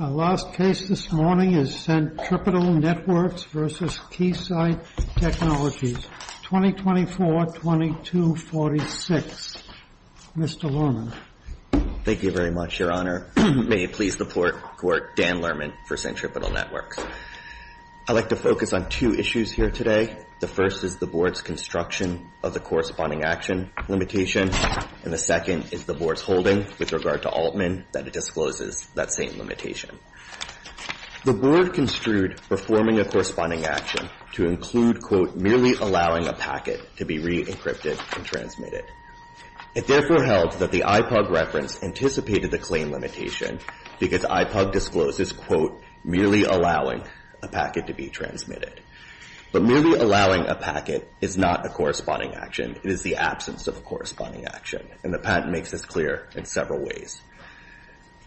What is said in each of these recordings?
Our last case this morning is Centripetal Networks v. Keysight Technologies, 2024-2246. Mr. Lerman. Thank you very much, Your Honor. May it please the Court, Dan Lerman for Centripetal Networks. I'd like to focus on two issues here today. The first is the Board's construction of the corresponding action limitation. And the second is the Board's holding with regard to Altman that it discloses that same limitation. The Board construed performing a corresponding action to include, quote, merely allowing a packet to be re-encrypted and transmitted. It therefore held that the IPUG reference anticipated the claim limitation because IPUG discloses, quote, merely allowing a packet to be transmitted. But merely allowing a packet is not a corresponding action. It is the absence of a corresponding action. And the patent makes this clear in several ways.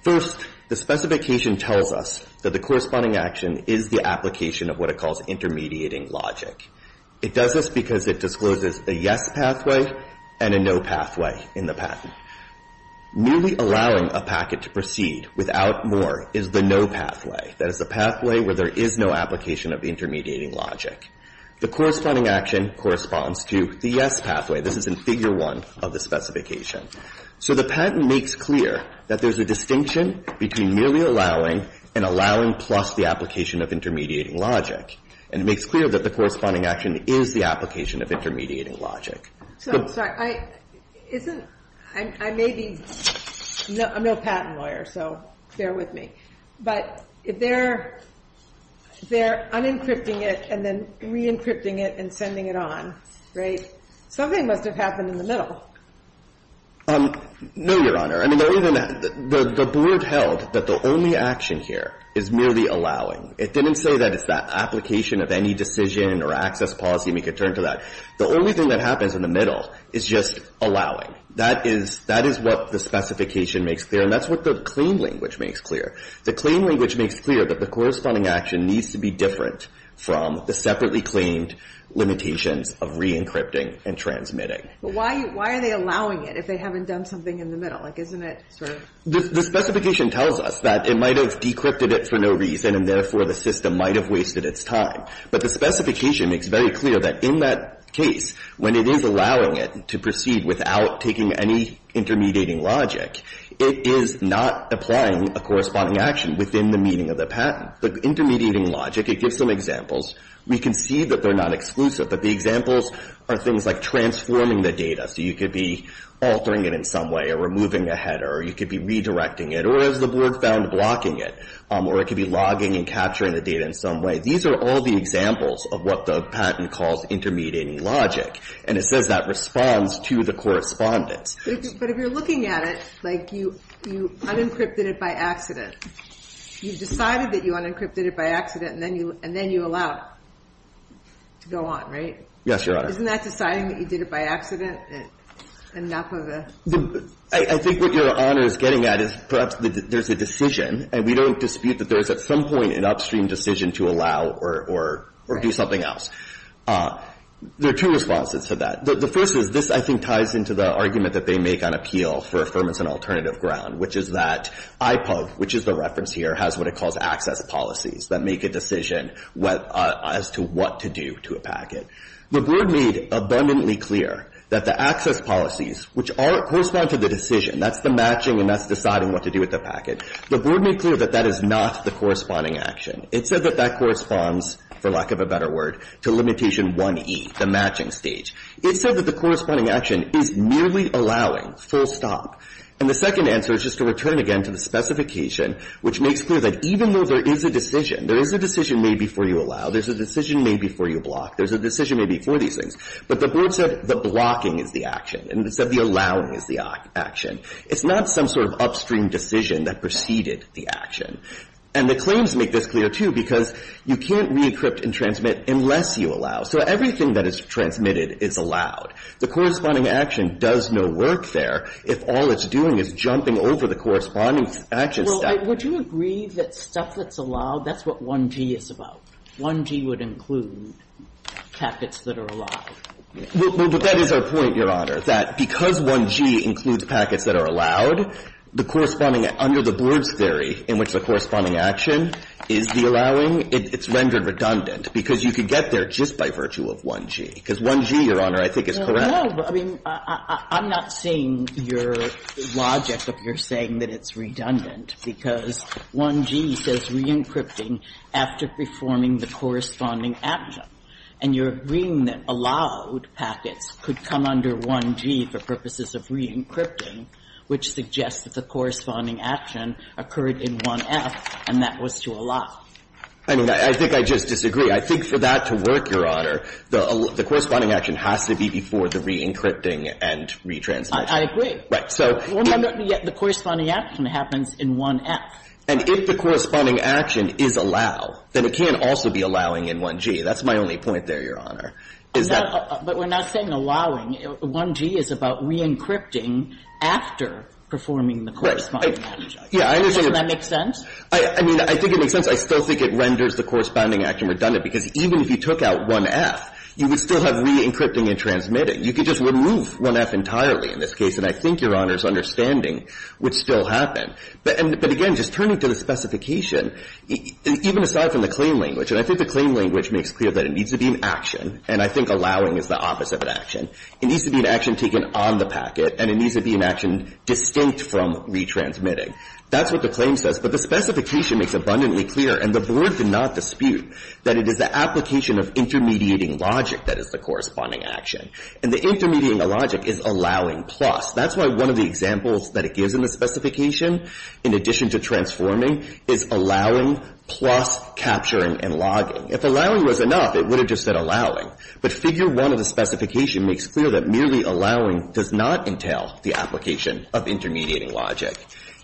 First, the specification tells us that the corresponding action is the application of what it calls intermediating logic. It does this because it discloses a yes pathway and a no pathway in the patent. Merely allowing a packet to proceed without more is the no pathway. That is the pathway where there is no application of intermediating logic. The corresponding action corresponds to the yes pathway. This is in Figure 1 of the specification. So the patent makes clear that there's a distinction between merely allowing and allowing plus the application of intermediating logic. And it makes clear that the corresponding action is the application of intermediating logic. So I'm sorry. I'm no patent lawyer, so bear with me. But if they're unencrypting it and then re-encrypting it and sending it on, right, something must have happened in the middle. No, Your Honor. I mean, the board held that the only action here is merely allowing. It didn't say that it's the application of any decision or access policy and we could turn to that. The only thing that happens in the middle is just allowing. That is what the specification makes clear, and that's what the claim language makes clear. The claim language makes clear that the corresponding action needs to be different from the separately claimed limitations of re-encrypting and transmitting. But why are they allowing it if they haven't done something in the middle? Like, isn't it sort of? The specification tells us that it might have decrypted it for no reason, and therefore the system might have wasted its time. But the specification makes very clear that in that case, when it is allowing it to proceed without taking any intermediating logic, it is not applying a corresponding action within the meaning of the patent. The intermediating logic, it gives some examples. We can see that they're not exclusive, but the examples are things like transforming the data. So you could be altering it in some way or removing a header or you could be redirecting it or, as the board found, blocking it. Or it could be logging and capturing the data in some way. These are all the examples of what the patent calls intermediating logic. And it says that responds to the correspondence. But if you're looking at it, like, you unencrypted it by accident. You decided that you unencrypted it by accident and then you allow it to go on, right? Yes, Your Honor. Isn't that deciding that you did it by accident enough of a? I think what Your Honor is getting at is perhaps there's a decision, and we don't dispute that there is at some point an upstream decision to allow or do something else. There are two responses to that. The first is this, I think, ties into the argument that they make on appeal for affirmance and alternative ground, which is that IPUB, which is the reference here, has what it calls access policies that make a decision as to what to do to a packet. The board made abundantly clear that the access policies, which correspond to the decision, that's the matching and that's deciding what to do with the packet. The board made clear that that is not the corresponding action. It said that that corresponds, for lack of a better word, to limitation 1e, the matching stage. It said that the corresponding action is merely allowing full stop. And the second answer is just to return again to the specification, which makes clear that even though there is a decision, there is a decision made before you allow, there's a decision made before you block, there's a decision made before these things, but the board said the blocking is the action and said the allowing is the action. It's not some sort of upstream decision that preceded the action. And the claims make this clear, too, because you can't re-encrypt and transmit unless you allow. So everything that is transmitted is allowed. The corresponding action does no work there if all it's doing is jumping over the corresponding action step. Well, would you agree that stuff that's allowed, that's what 1g is about? 1g would include packets that are allowed. Well, but that is our point, Your Honor, that because 1g includes packets that are allowed, the corresponding, under the board's theory, in which the corresponding action is the allowing, it's rendered redundant, because you could get there just by virtue of 1g. Because 1g, Your Honor, I think is correct. I mean, I'm not seeing your logic of your saying that it's redundant, because 1g says re-encrypting after performing the corresponding action. And you're agreeing that allowed packets could come under 1g for purposes of re-encrypting, which suggests that the corresponding action occurred in 1f, and that was to allow. I mean, I think I just disagree. I think for that to work, Your Honor, the corresponding action has to be before the re-encrypting and re-transmission. I agree. Right. So if the corresponding action happens in 1f. And if the corresponding action is allow, then it can't also be allowing in 1g. That's my only point there, Your Honor, is that. But we're not saying allowing. 1g is about re-encrypting after performing the corresponding action. Right. Yeah, I understand. Doesn't that make sense? I mean, I think it makes sense. I still think it renders the corresponding action redundant, because even if you took out 1f, you would still have re-encrypting and transmitting. You could just remove 1f entirely in this case, and I think Your Honor's understanding would still happen. But again, just turning to the specification, even aside from the claim language, and I think the claim language makes clear that it needs to be an action, and I think allowing is the opposite of an action. It needs to be an action taken on the packet, and it needs to be an action distinct from re-transmitting. That's what the claim says. But the specification makes abundantly clear, and the Board did not dispute, that it is the application of intermediating logic that is the corresponding action. And the intermediating logic is allowing plus. That's why one of the examples that it gives in the specification, in addition to transforming, is allowing plus capturing and logging. If allowing was enough, it would have just said allowing. But Figure 1 of the specification makes clear that merely allowing does not entail the application of intermediating logic.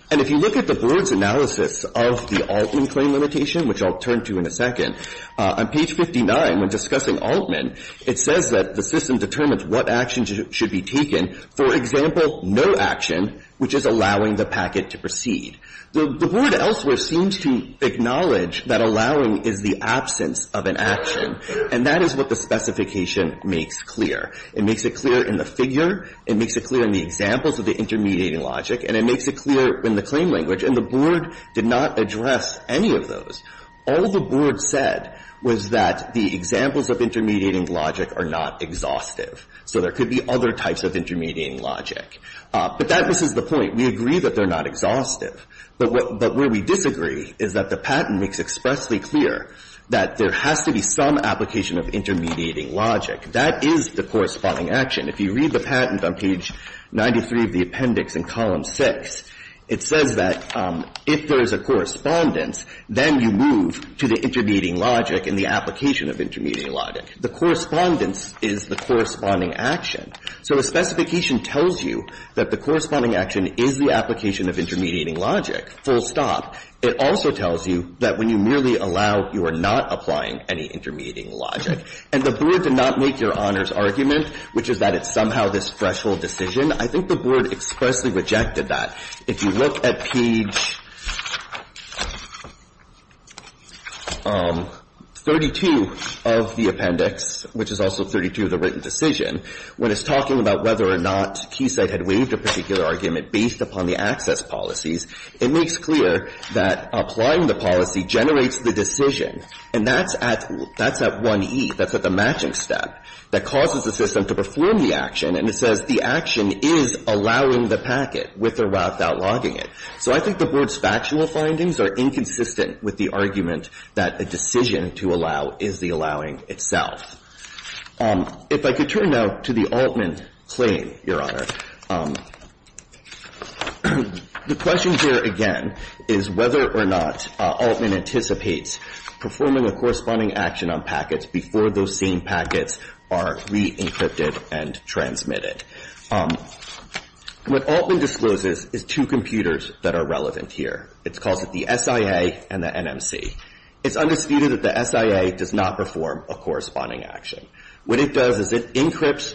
And if you look at the Board's analysis of the Altman claim limitation, which I'll turn to in a second, on page 59, when discussing Altman, it says that the system determines what action should be taken. For example, no action, which is allowing the packet to proceed. The Board elsewhere seems to acknowledge that allowing is the absence of an action, and that is what the specification makes clear. It makes it clear in the figure. It makes it clear in the examples of the intermediating logic. And it makes it clear in the claim language. And the Board did not address any of those. All the Board said was that the examples of intermediating logic are not exhaustive. So there could be other types of intermediating logic. But that misses the point. We agree that they're not exhaustive. But what we disagree is that the patent makes expressly clear that there has to be some application of intermediating logic. That is the corresponding action. If you read the patent on page 93 of the appendix in column 6, it says that if there is a correspondence, then you move to the intermediating logic and the application of intermediating logic. The correspondence is the corresponding action. So a specification tells you that the corresponding action is the application of intermediating logic, full stop. It also tells you that when you merely allow, you are not applying any intermediating logic. And the Board did not make Your Honor's argument, which is that it's somehow this threshold decision. I think the Board expressly rejected that. If you look at page 32 of the appendix, which is also 32 of the written decision, when it's talking about whether or not Keysight had waived a particular argument based upon the access policies, it makes clear that applying the policy generates the decision. And that's at one E, that's at the matching step, that causes the system to perform the action. And it says the action is allowing the packet with or without logging it. So I think the Board's factual findings are inconsistent with the argument that a decision to allow is the allowing itself. If I could turn now to the Altman claim, Your Honor, the question here again is whether or not Altman anticipates performing a corresponding action on packets before those same packets are re-encrypted and transmitted. What Altman discloses is two computers that are relevant here. It calls it the SIA and the NMC. It's undisputed that the SIA does not perform a corresponding action. What it does is it decrypts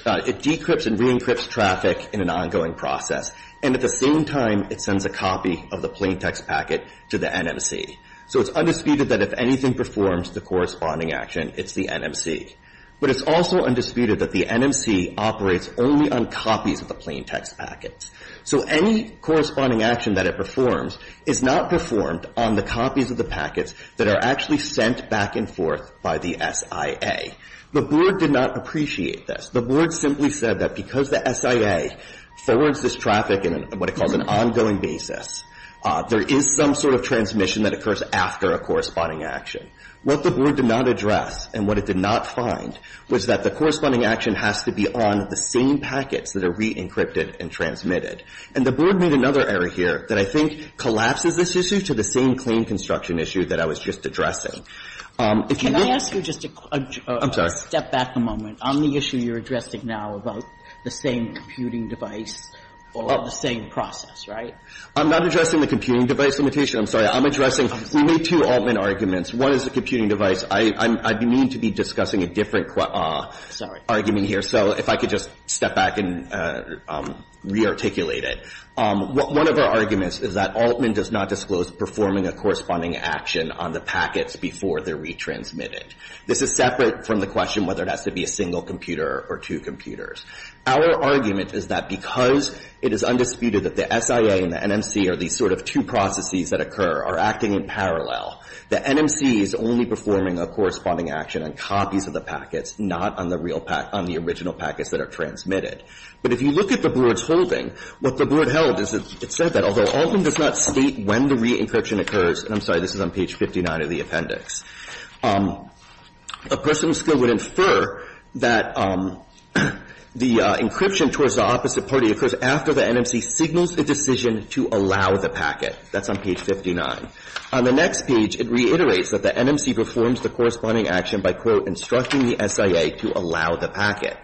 and re-encrypts traffic in an ongoing process. And at the same time, it sends a copy of the plaintext packet to the NMC. So it's undisputed that if anything performs the corresponding action, it's the NMC. But it's also undisputed that the NMC operates only on copies of the plaintext packets. So any corresponding action that it performs is not performed on the copies of the packets that are actually sent back and forth by the SIA. The Board did not appreciate this. The Board simply said that because the SIA forwards this traffic in what it calls an ongoing basis, there is some sort of transmission that occurs after a corresponding action. What the Board did not address and what it did not find was that the corresponding action has to be on the same packets that are re-encrypted and transmitted. And the Board made another error here that I think collapses this issue to the same claim construction issue that I was just addressing. If you look at it ---- Can I ask you just to step back a moment on the issue you're addressing now about the same computing device or the same process, right? I'm not addressing the computing device limitation. I'm sorry. I'm addressing we made two Altman arguments. One is the computing device. I'd be mean to be discussing a different argument here. So if I could just step back and re-articulate it. One of our arguments is that Altman does not disclose performing a corresponding action on the packets before they're re-transmitted. This is separate from the question whether it has to be a single computer or two computers. Our argument is that because it is undisputed that the SIA and the NMC are these sort of two processes that occur, are acting in parallel, the NMC is only performing a corresponding action on copies of the packets, not on the original packets that are transmitted. But if you look at the Board's holding, what the Board held is that it said that although Altman does not state when the re-encryption occurs ---- and I'm sorry, this is on page 59 of the appendix ---- a person of skill would infer that the encryption towards the opposite party occurs after the NMC signals the decision to allow the That's on page 59. On the next page, it reiterates that the NMC performs the corresponding action by, quote, instructing the SIA to allow the packet.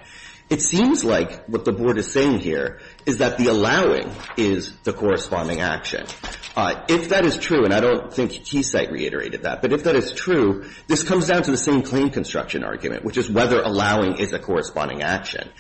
It seems like what the Board is saying here is that the allowing is the corresponding action. If that is true, and I don't think Keysight reiterated that, but if that is true, this comes down to the same claim construction argument, which is whether allowing is a corresponding action.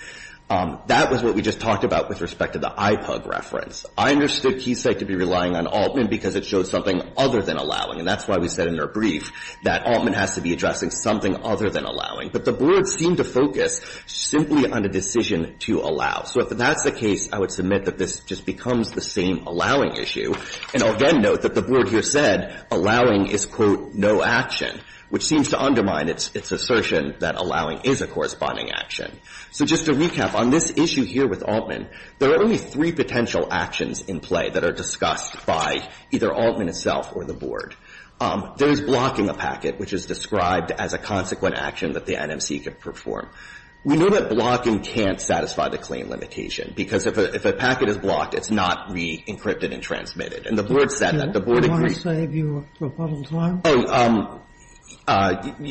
That was what we just talked about with respect to the IPUG reference. I understood Keysight to be relying on Altman because it showed something other than allowing. And that's why we said in our brief that Altman has to be addressing something other than allowing. But the Board seemed to focus simply on a decision to allow. So if that's the case, I would submit that this just becomes the same allowing issue. And I'll again note that the Board here said allowing is, quote, no action, which seems to undermine its assertion that allowing is a corresponding action. So just to recap, on this issue here with Altman, there are only three potential actions in play that are discussed by either Altman itself or the Board. There is blocking a packet, which is described as a consequent action that the NMC could perform. We know that blocking can't satisfy the claim limitation, because if a packet is blocked, it's not re-encrypted and transmitted. And the Board said that. The Board agreed. Sotomayor, do you want to save your rebuttal time? Oh,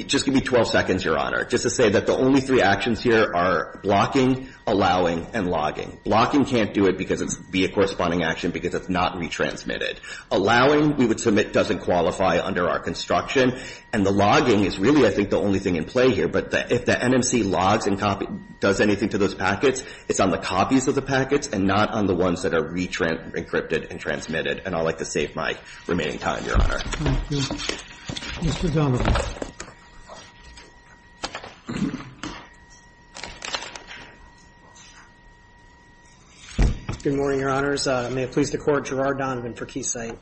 just give me 12 seconds, Your Honor, just to say that the only three actions here are blocking, allowing, and logging. Blocking can't do it because it's be a corresponding action because it's not retransmitted. Allowing, we would submit, doesn't qualify under our construction. And the logging is really, I think, the only thing in play here. But if the NMC logs and does anything to those packets, it's on the copies of the packets and not on the ones that are re-encrypted and transmitted. And I would like to save my remaining time, Your Honor. Thank you. Mr. Domenico. Good morning, Your Honors. May it please the Court. Gerard Donovan for Keysight.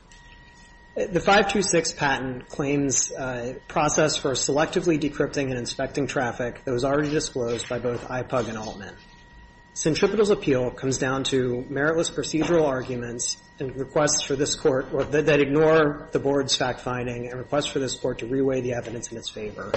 The 526 patent claims process for selectively decrypting and inspecting traffic that was already disclosed by both IPUG and Altman. Centripetal's appeal comes down to meritless procedural arguments and requests for this Court that ignore the Board's fact-finding and requests for this Court to re-weigh the evidence in its favor.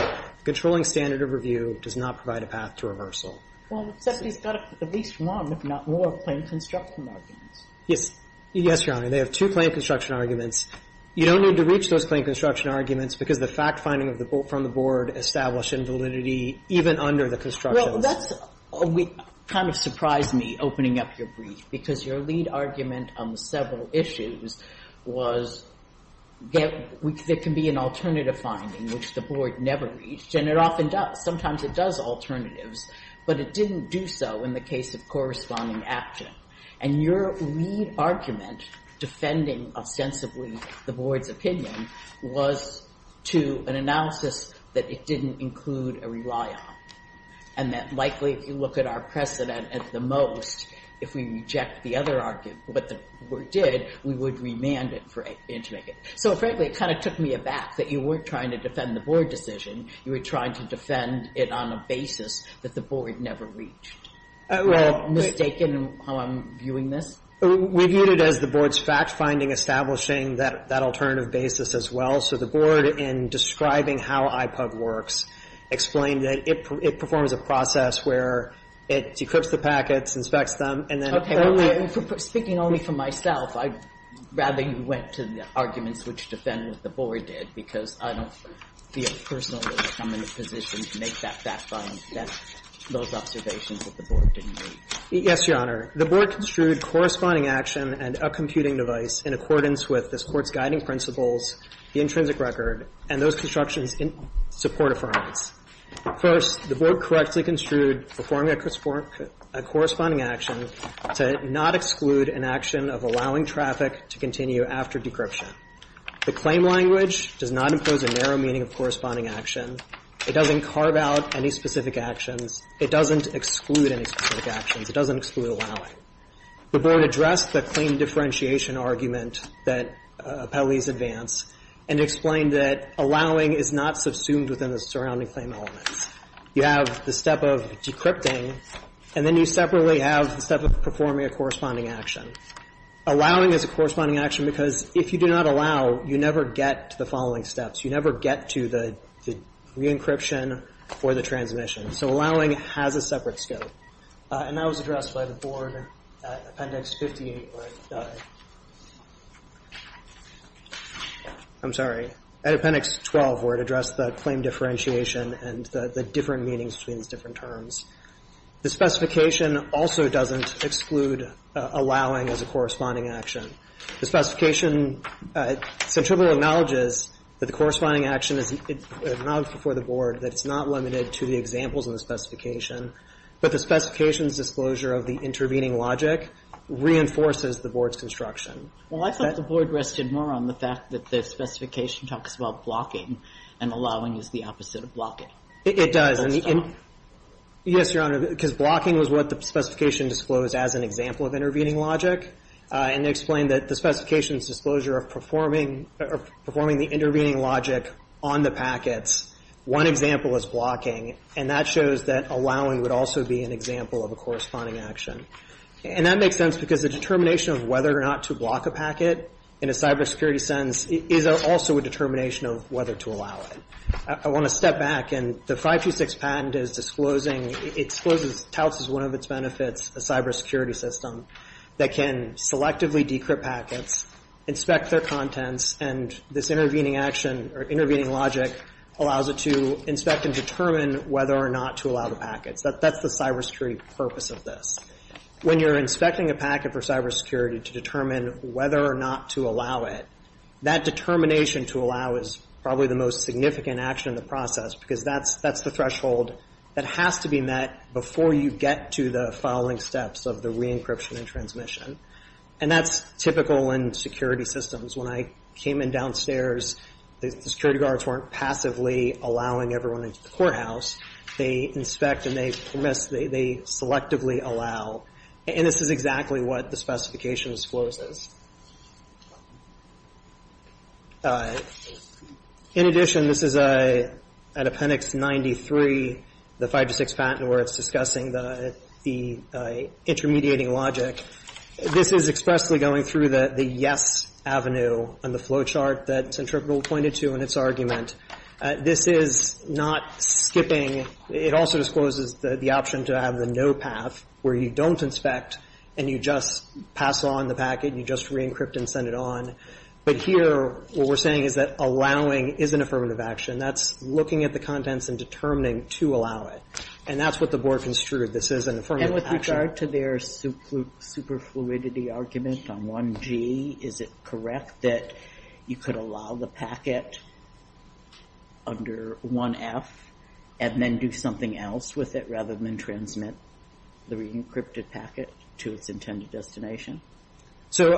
Controlling standard of review does not provide a path to reversal. Well, if somebody's got at least one, if not more, claim construction arguments. Yes. Yes, Your Honor. They have two claim construction arguments. You don't need to reach those claim construction arguments because the fact-finding from the Board established invalidity even under the construction. Well, that's kind of surprised me, opening up your brief, because your lead argument on the several issues was there can be an alternative finding, which the Board never reached, and it often does. Sometimes it does alternatives, but it didn't do so in the case of corresponding action. And your lead argument defending ostensibly the Board's opinion was to an analysis that it didn't include a rely on. And that likely, if you look at our precedent at the most, if we reject the other argument, what the Board did, we would remand it for it to make it. So, frankly, it kind of took me aback that you weren't trying to defend the Board decision. You were trying to defend it on a basis that the Board never reached. Am I mistaken in how I'm viewing this? We viewed it as the Board's fact-finding establishing that alternative basis as well. So the Board, in describing how IPUG works, explained that it performs a process where it decrypts the packets, inspects them, and then speaking only for myself, I'd rather you went to the arguments which defend what the Board did, because I don't feel personally that I'm in a position to make that fact-finding that those observations that the Board didn't make. Yes, Your Honor. The Board construed corresponding action and a computing device in accordance with this Court's guiding principles, the intrinsic record, and those constructions in support of fairness. First, the Board correctly construed performing a corresponding action to not exclude an action of allowing traffic to continue after decryption. The claim language does not impose a narrow meaning of corresponding action. It doesn't carve out any specific actions. It doesn't exclude any specific actions. It doesn't exclude allowing. The Board addressed the claim differentiation argument that appellees advance and explained that allowing is not subsumed within the surrounding claim elements. You have the step of decrypting, and then you separately have the step of performing a corresponding action. Allowing is a corresponding action because if you do not allow, you never get to the following steps. You never get to the re-encryption or the transmission. So allowing has a separate scope. And that was addressed by the Board at Appendix 58. I'm sorry. At Appendix 12, where it addressed the claim differentiation and the different meanings between these different terms. The specification also doesn't exclude allowing as a corresponding action. The specification centrally acknowledges that the corresponding action is not before the Board, that it's not limited to the examples in the specification, but the specification's disclosure of the intervening logic reinforces the Board's construction. Well, I thought the Board rested more on the fact that the specification talks about blocking, and allowing is the opposite of blocking. It does. Yes, Your Honor, because blocking was what the specification disclosed as an example of intervening logic. And they explained that the specification's disclosure of performing the intervening logic on the packets, one example is blocking, and that shows that allowing would also be an example of a corresponding action. And that makes sense because the determination of whether or not to block a packet, in a cybersecurity sense, is also a determination of whether to allow it. I want to step back, and the 526 patent is disclosing, it touts as one of its benefits, a cybersecurity system that can selectively decrypt packets, inspect their contents, and this intervening logic allows it to inspect and determine whether or not to allow the packets. That's the cybersecurity purpose of this. When you're inspecting a packet for cybersecurity to determine whether or not to allow it, that determination to allow is probably the most significant action in the process because that's the threshold that has to be met before you get to the following steps of the re-encryption and transmission. And that's typical in security systems. When I came in downstairs, the security guards weren't passively allowing everyone into the courthouse. They inspect and they selectively allow. And this is exactly what the specification discloses. In addition, this is at Appendix 93, the 526 patent, where it's discussing the intermediating logic. This is expressly going through the yes avenue on the flowchart that Centripetal pointed to in its argument. This is not skipping. It also discloses the option to have the no path, where you don't inspect and you just pass on the packet. You just re-encrypt and send it on. But here, what we're saying is that allowing is an affirmative action. That's looking at the contents and determining to allow it. And that's what the board construed. This is an affirmative action. With regard to their superfluidity argument on 1G, is it correct that you could allow the packet under 1F and then do something else with it rather than transmit the re-encrypted packet to its intended destination? So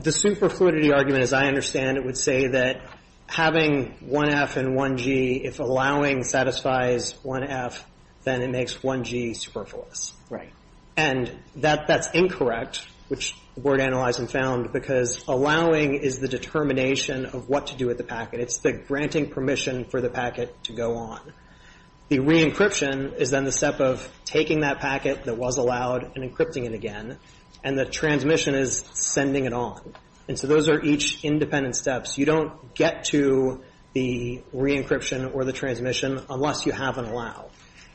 the superfluidity argument, as I understand it, would say that having 1F and 1G, if allowing satisfies 1F, then it makes 1G superfluous. Right. And that's incorrect, which the board analyzed and found, because allowing is the determination of what to do with the packet. It's the granting permission for the packet to go on. The re-encryption is then the step of taking that packet that was allowed and encrypting it again, and the transmission is sending it on. And so those are each independent steps. You don't get to the re-encryption or the transmission unless you have an allow.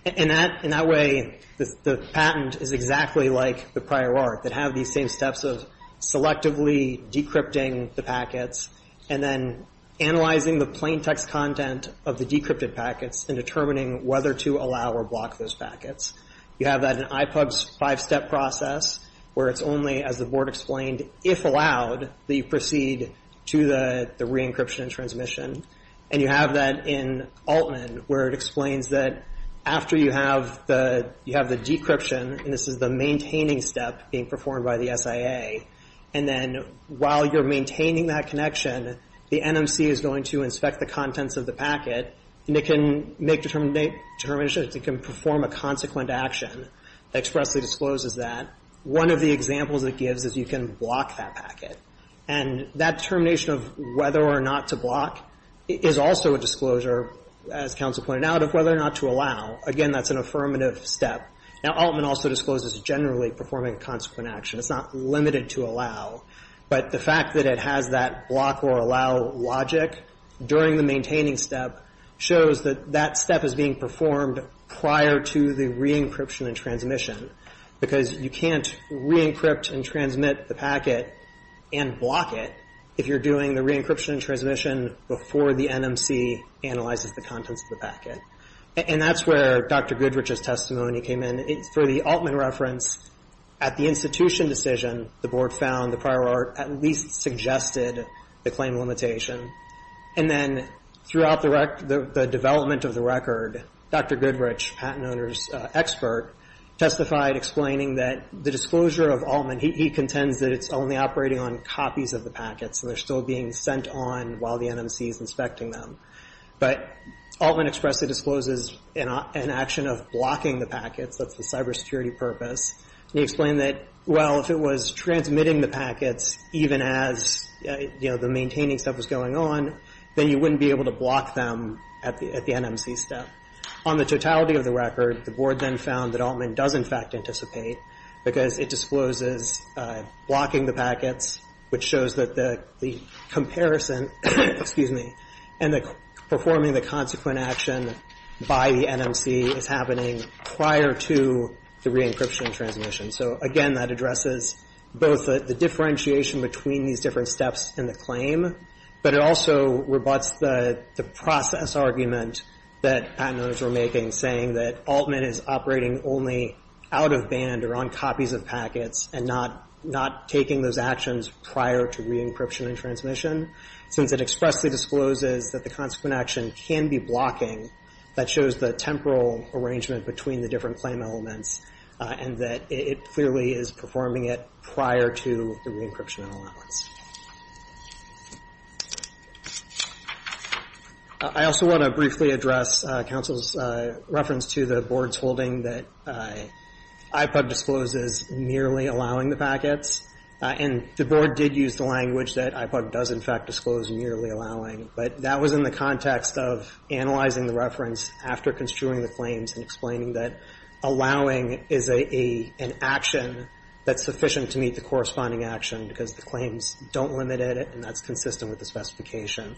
And that way, the patent is exactly like the prior art, that have these same steps of selectively decrypting the packets and then analyzing the plain text content of the decrypted packets and determining whether to allow or block those packets. You have that in IPUB's five-step process, where it's only, as the board explained, if allowed, that you proceed to the re-encryption and transmission. And you have that in Altman, where it explains that after you have the decryption, and this is the maintaining step being performed by the SIA, and then while you're maintaining that connection, the NMC is going to inspect the contents of the packet, and it can make determinations. It can perform a consequent action that expressly discloses that. One of the examples it gives is you can block that packet. And that determination of whether or not to block is also a disclosure, as counsel pointed out, of whether or not to allow. Again, that's an affirmative step. Now, Altman also discloses generally performing a consequent action. It's not limited to allow. But the fact that it has that block or allow logic during the maintaining step shows that that step is being performed prior to the re-encryption and transmission. Because you can't re-encrypt and transmit the packet and block it if you're doing the re-encryption and transmission before the NMC analyzes the contents of the packet. And that's where Dr. Goodrich's testimony came in. For the Altman reference, at the institution decision, the board found the prior art at least suggested the claim limitation. And then throughout the development of the record, Dr. Goodrich, patent owner's expert, testified explaining that the disclosure of Altman, he contends that it's only operating on copies of the packets, and they're still being sent on while the NMC is inspecting them. But Altman expressly discloses an action of blocking the packets. That's the cybersecurity purpose. And he explained that, well, if it was transmitting the packets, even as the maintaining step was going on, then you wouldn't be able to block them at the NMC step. On the totality of the record, the board then found that Altman does in fact anticipate, because it discloses blocking the packets, which shows that the comparison, excuse me, and the performing the consequent action by the NMC is happening prior to the re-encryption transmission. So, again, that addresses both the differentiation between these different steps in the claim, but it also rebutts the process argument that patent owners were making, saying that Altman is operating only out of band or on copies of packets and not taking those actions prior to re-encryption and transmission. Since it expressly discloses that the consequent action can be blocking, that shows the temporal arrangement between the different claim elements and that it clearly is performing it prior to the re-encryption and allowance. I also want to briefly address counsel's reference to the board's holding that IPUG discloses merely allowing the packets. And the board did use the language that IPUG does in fact disclose nearly allowing, but that was in the context of analyzing the reference after construing the claims and explaining that allowing is an action that's sufficient to meet the corresponding action because the claims don't limit it and that's consistent with the specification.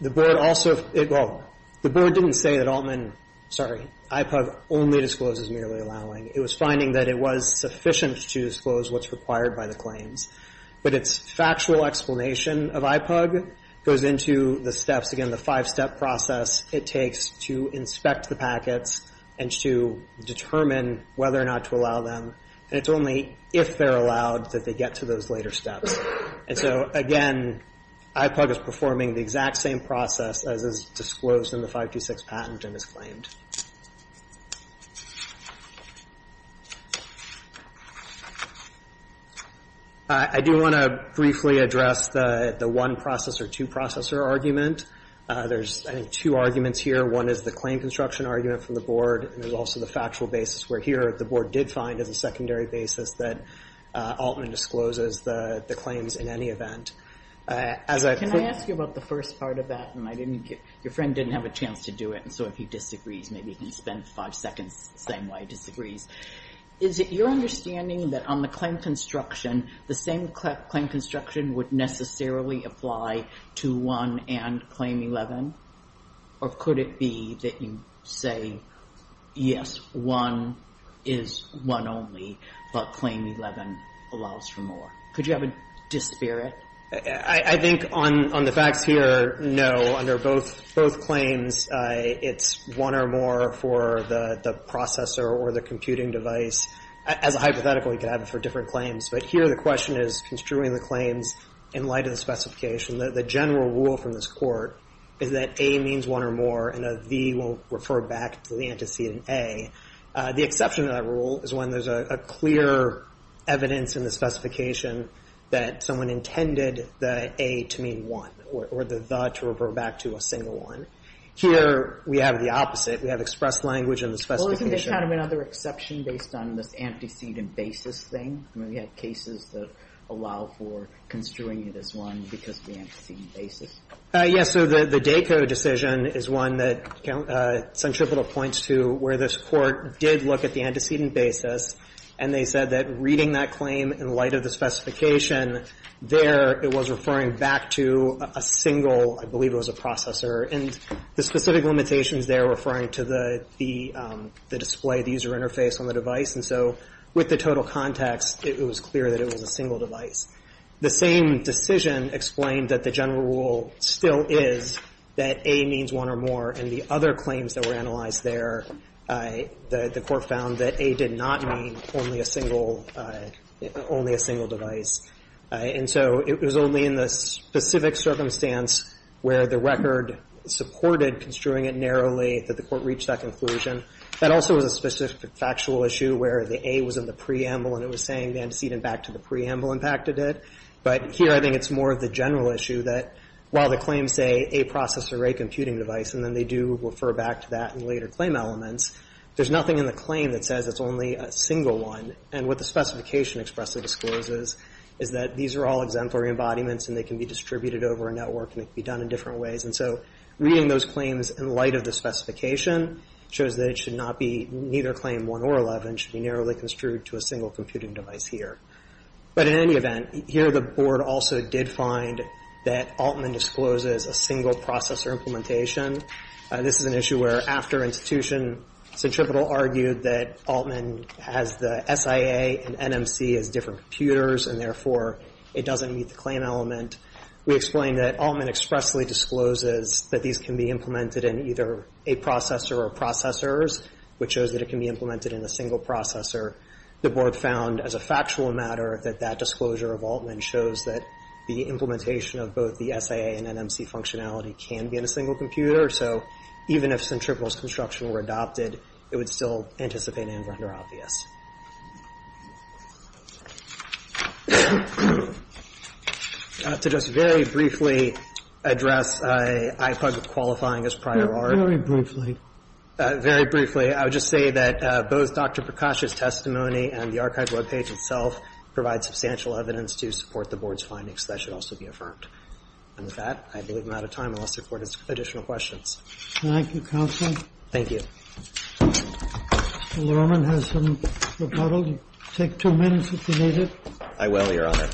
The board also, well, the board didn't say that Altman, sorry, IPUG only discloses merely allowing. It was finding that it was sufficient to disclose what's required by the claims. But its factual explanation of IPUG goes into the steps, again, the five-step process it takes to inspect the packets and to determine whether or not to allow them. And it's only if they're allowed that they get to those later steps. And so, again, IPUG is performing the exact same process as is disclosed in the 526 patent and is claimed. I do want to briefly address the one-processor, two-processor argument. There's, I think, two arguments here. One is the claim construction argument from the board. And there's also the factual basis where here the board did find as a secondary basis that Altman discloses the claims in any event. As I've put... Can I ask you about the first part of that? And I didn't get, your friend didn't have a chance to do it. And so if he disagrees, he can't do it. If he disagrees, maybe he can spend five seconds the same way he disagrees. Is it your understanding that on the claim construction, the same claim construction would necessarily apply to 1 and claim 11? Or could it be that you say, yes, 1 is 1 only, but claim 11 allows for more? Could you have a dispirit? I think on the facts here, no. Under both claims, it's 1 or more for the processor or the computing device. As a hypothetical, you could have it for different claims. But here the question is construing the claims in light of the specification. The general rule from this Court is that A means 1 or more, and a V will refer back to the antecedent A. The exception to that rule is when there's a clear evidence in the specification that someone intended the A to mean 1 or the the to refer back to a single 1. Here we have the opposite. We have expressed language in the specification. Well, isn't there kind of another exception based on this antecedent basis thing? I mean, we had cases that allow for construing it as 1 because of the antecedent basis. Yes. So the DACA decision is one that Centripetal points to where this Court did look at the specification. There it was referring back to a single, I believe it was a processor. And the specific limitations there referring to the display, the user interface on the device. And so with the total context, it was clear that it was a single device. The same decision explained that the general rule still is that A means 1 or more. In the other claims that were analyzed there, the Court found that A did not mean only a single, only a single device. And so it was only in the specific circumstance where the record supported construing it narrowly that the Court reached that conclusion. That also was a specific factual issue where the A was in the preamble and it was saying the antecedent back to the preamble impacted it. But here I think it's more of the general issue that while the claims say a processor, a computing device, and then they do refer back to that in later claim elements, there's nothing in the claim that says it's only a single one. And what the specification expressively discloses is that these are all exemplary embodiments and they can be distributed over a network and it can be done in different ways. And so reading those claims in light of the specification shows that it should not be, neither claim 1 or 11, should be narrowly construed to a single computing device here. But in any event, here the Board also did find that Altman discloses a single processor implementation. This is an issue where after institution, Centripetal argued that Altman has the SIA and NMC as different computers and, therefore, it doesn't meet the claim element. We explained that Altman expressly discloses that these can be implemented in either a processor or processors, which shows that it can be implemented in a single processor. The Board found as a factual matter that that disclosure of Altman shows that the even if Centripetal's construction were adopted, it would still anticipate and render obvious. To just very briefly address IFUG qualifying as prior art. Very briefly. Very briefly. I would just say that both Dr. Prakash's testimony and the archive webpage itself provide substantial evidence to support the Board's findings. That should also be affirmed. And with that, I believe I'm out of time. I'll ask the Court additional questions. Thank you, Counsel. Thank you. Mr. Lerman has some rebuttals. Take two minutes if you need it. I will, Your Honor.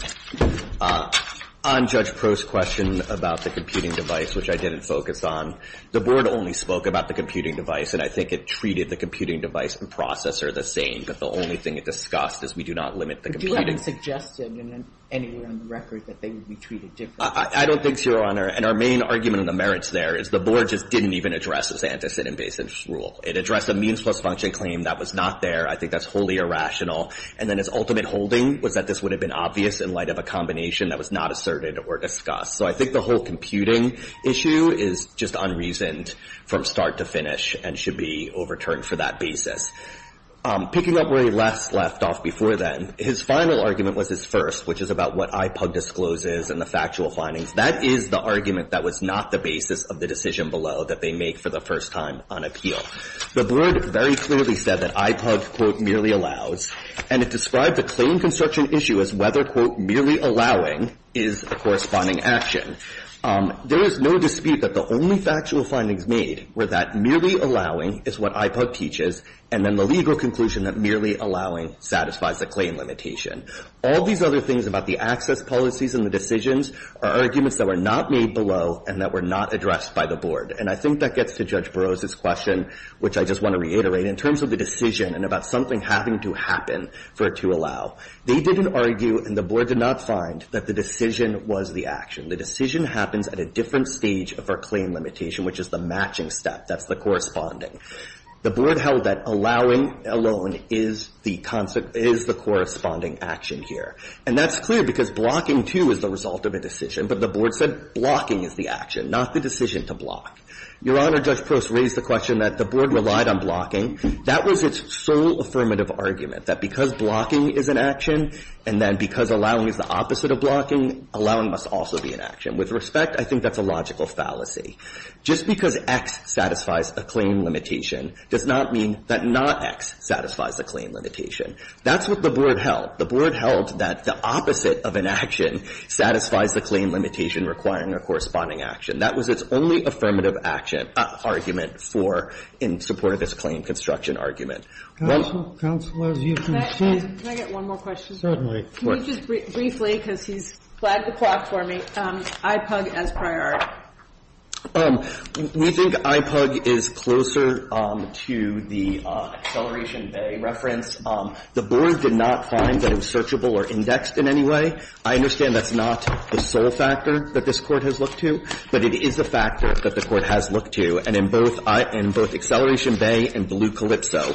On Judge Prost's question about the computing device, which I didn't focus on, the Board only spoke about the computing device, and I think it treated the computing device and processor the same. But the only thing it discussed is we do not limit the computing device. I don't think so, Your Honor. And our main argument on the merits there is the Board just didn't even address this antecedent-based rule. It addressed a means-plus-function claim that was not there. I think that's wholly irrational. And then its ultimate holding was that this would have been obvious in light of a combination that was not asserted or discussed. So I think the whole computing issue is just unreasoned from start to finish and should be overturned for that basis. Picking up where he last left off before then, his final argument was his first, which is about what IPUG discloses and the factual findings. That is the argument that was not the basis of the decision below that they make for the first time on appeal. The Board very clearly said that IPUG, quote, merely allows. And it described the claim construction issue as whether, quote, merely allowing is the corresponding action. There is no dispute that the only factual findings made were that merely allowing is what IPUG teaches and then the legal conclusion that merely allowing satisfies the claim limitation. All these other things about the access policies and the decisions are arguments that were not made below and that were not addressed by the Board. And I think that gets to Judge Burroughs' question, which I just want to reiterate, in terms of the decision and about something having to happen for it to allow. They didn't argue and the Board did not find that the decision was the action. The decision happens at a different stage of our claim limitation, which is the matching step. That's the corresponding. The Board held that allowing alone is the corresponding action here. And that's clear because blocking, too, is the result of a decision. But the Board said blocking is the action, not the decision to block. Your Honor, Judge Prost raised the question that the Board relied on blocking. That was its sole affirmative argument, that because blocking is an action and then because allowing is the opposite of blocking, allowing must also be an action. With respect, I think that's a logical fallacy. Just because X satisfies a claim limitation does not mean that not X satisfies a claim limitation. That's what the Board held. The Board held that the opposite of an action satisfies the claim limitation requiring a corresponding action. That was its only affirmative action argument for in support of this claim construction argument. Kennedy. I'll stop there. Counsel, as you can see. Can I get one more question? Certainly. Can you just briefly, because he's flagged the clock for me, IPUG as priority? We think IPUG is closer to the Acceleration Bay reference. The Board did not find that it was searchable or indexed in any way. I understand that's not the sole factor that this Court has looked to, but it is a factor that the Court has looked to. And in both Acceleration Bay and Blue Calypso,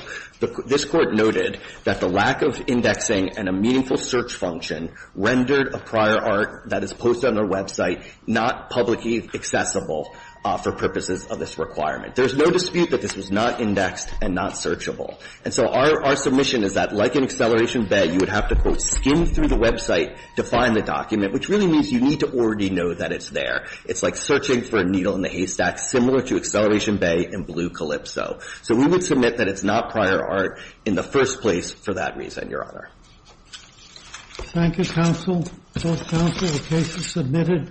this Court noted that the lack of indexing and a meaningful search function rendered a prior art that is posted on their website not publicly accessible for purposes of this requirement. There's no dispute that this was not indexed and not searchable. And so our submission is that, like in Acceleration Bay, you would have to, quote, skim through the website to find the document, which really means you need to already know that it's there. It's like searching for a needle in a haystack, similar to Acceleration Bay and Blue Calypso. So we would submit that it's not prior art in the first place for that reason, Your Honor. Thank you, counsel. Both counsel, the case is submitted.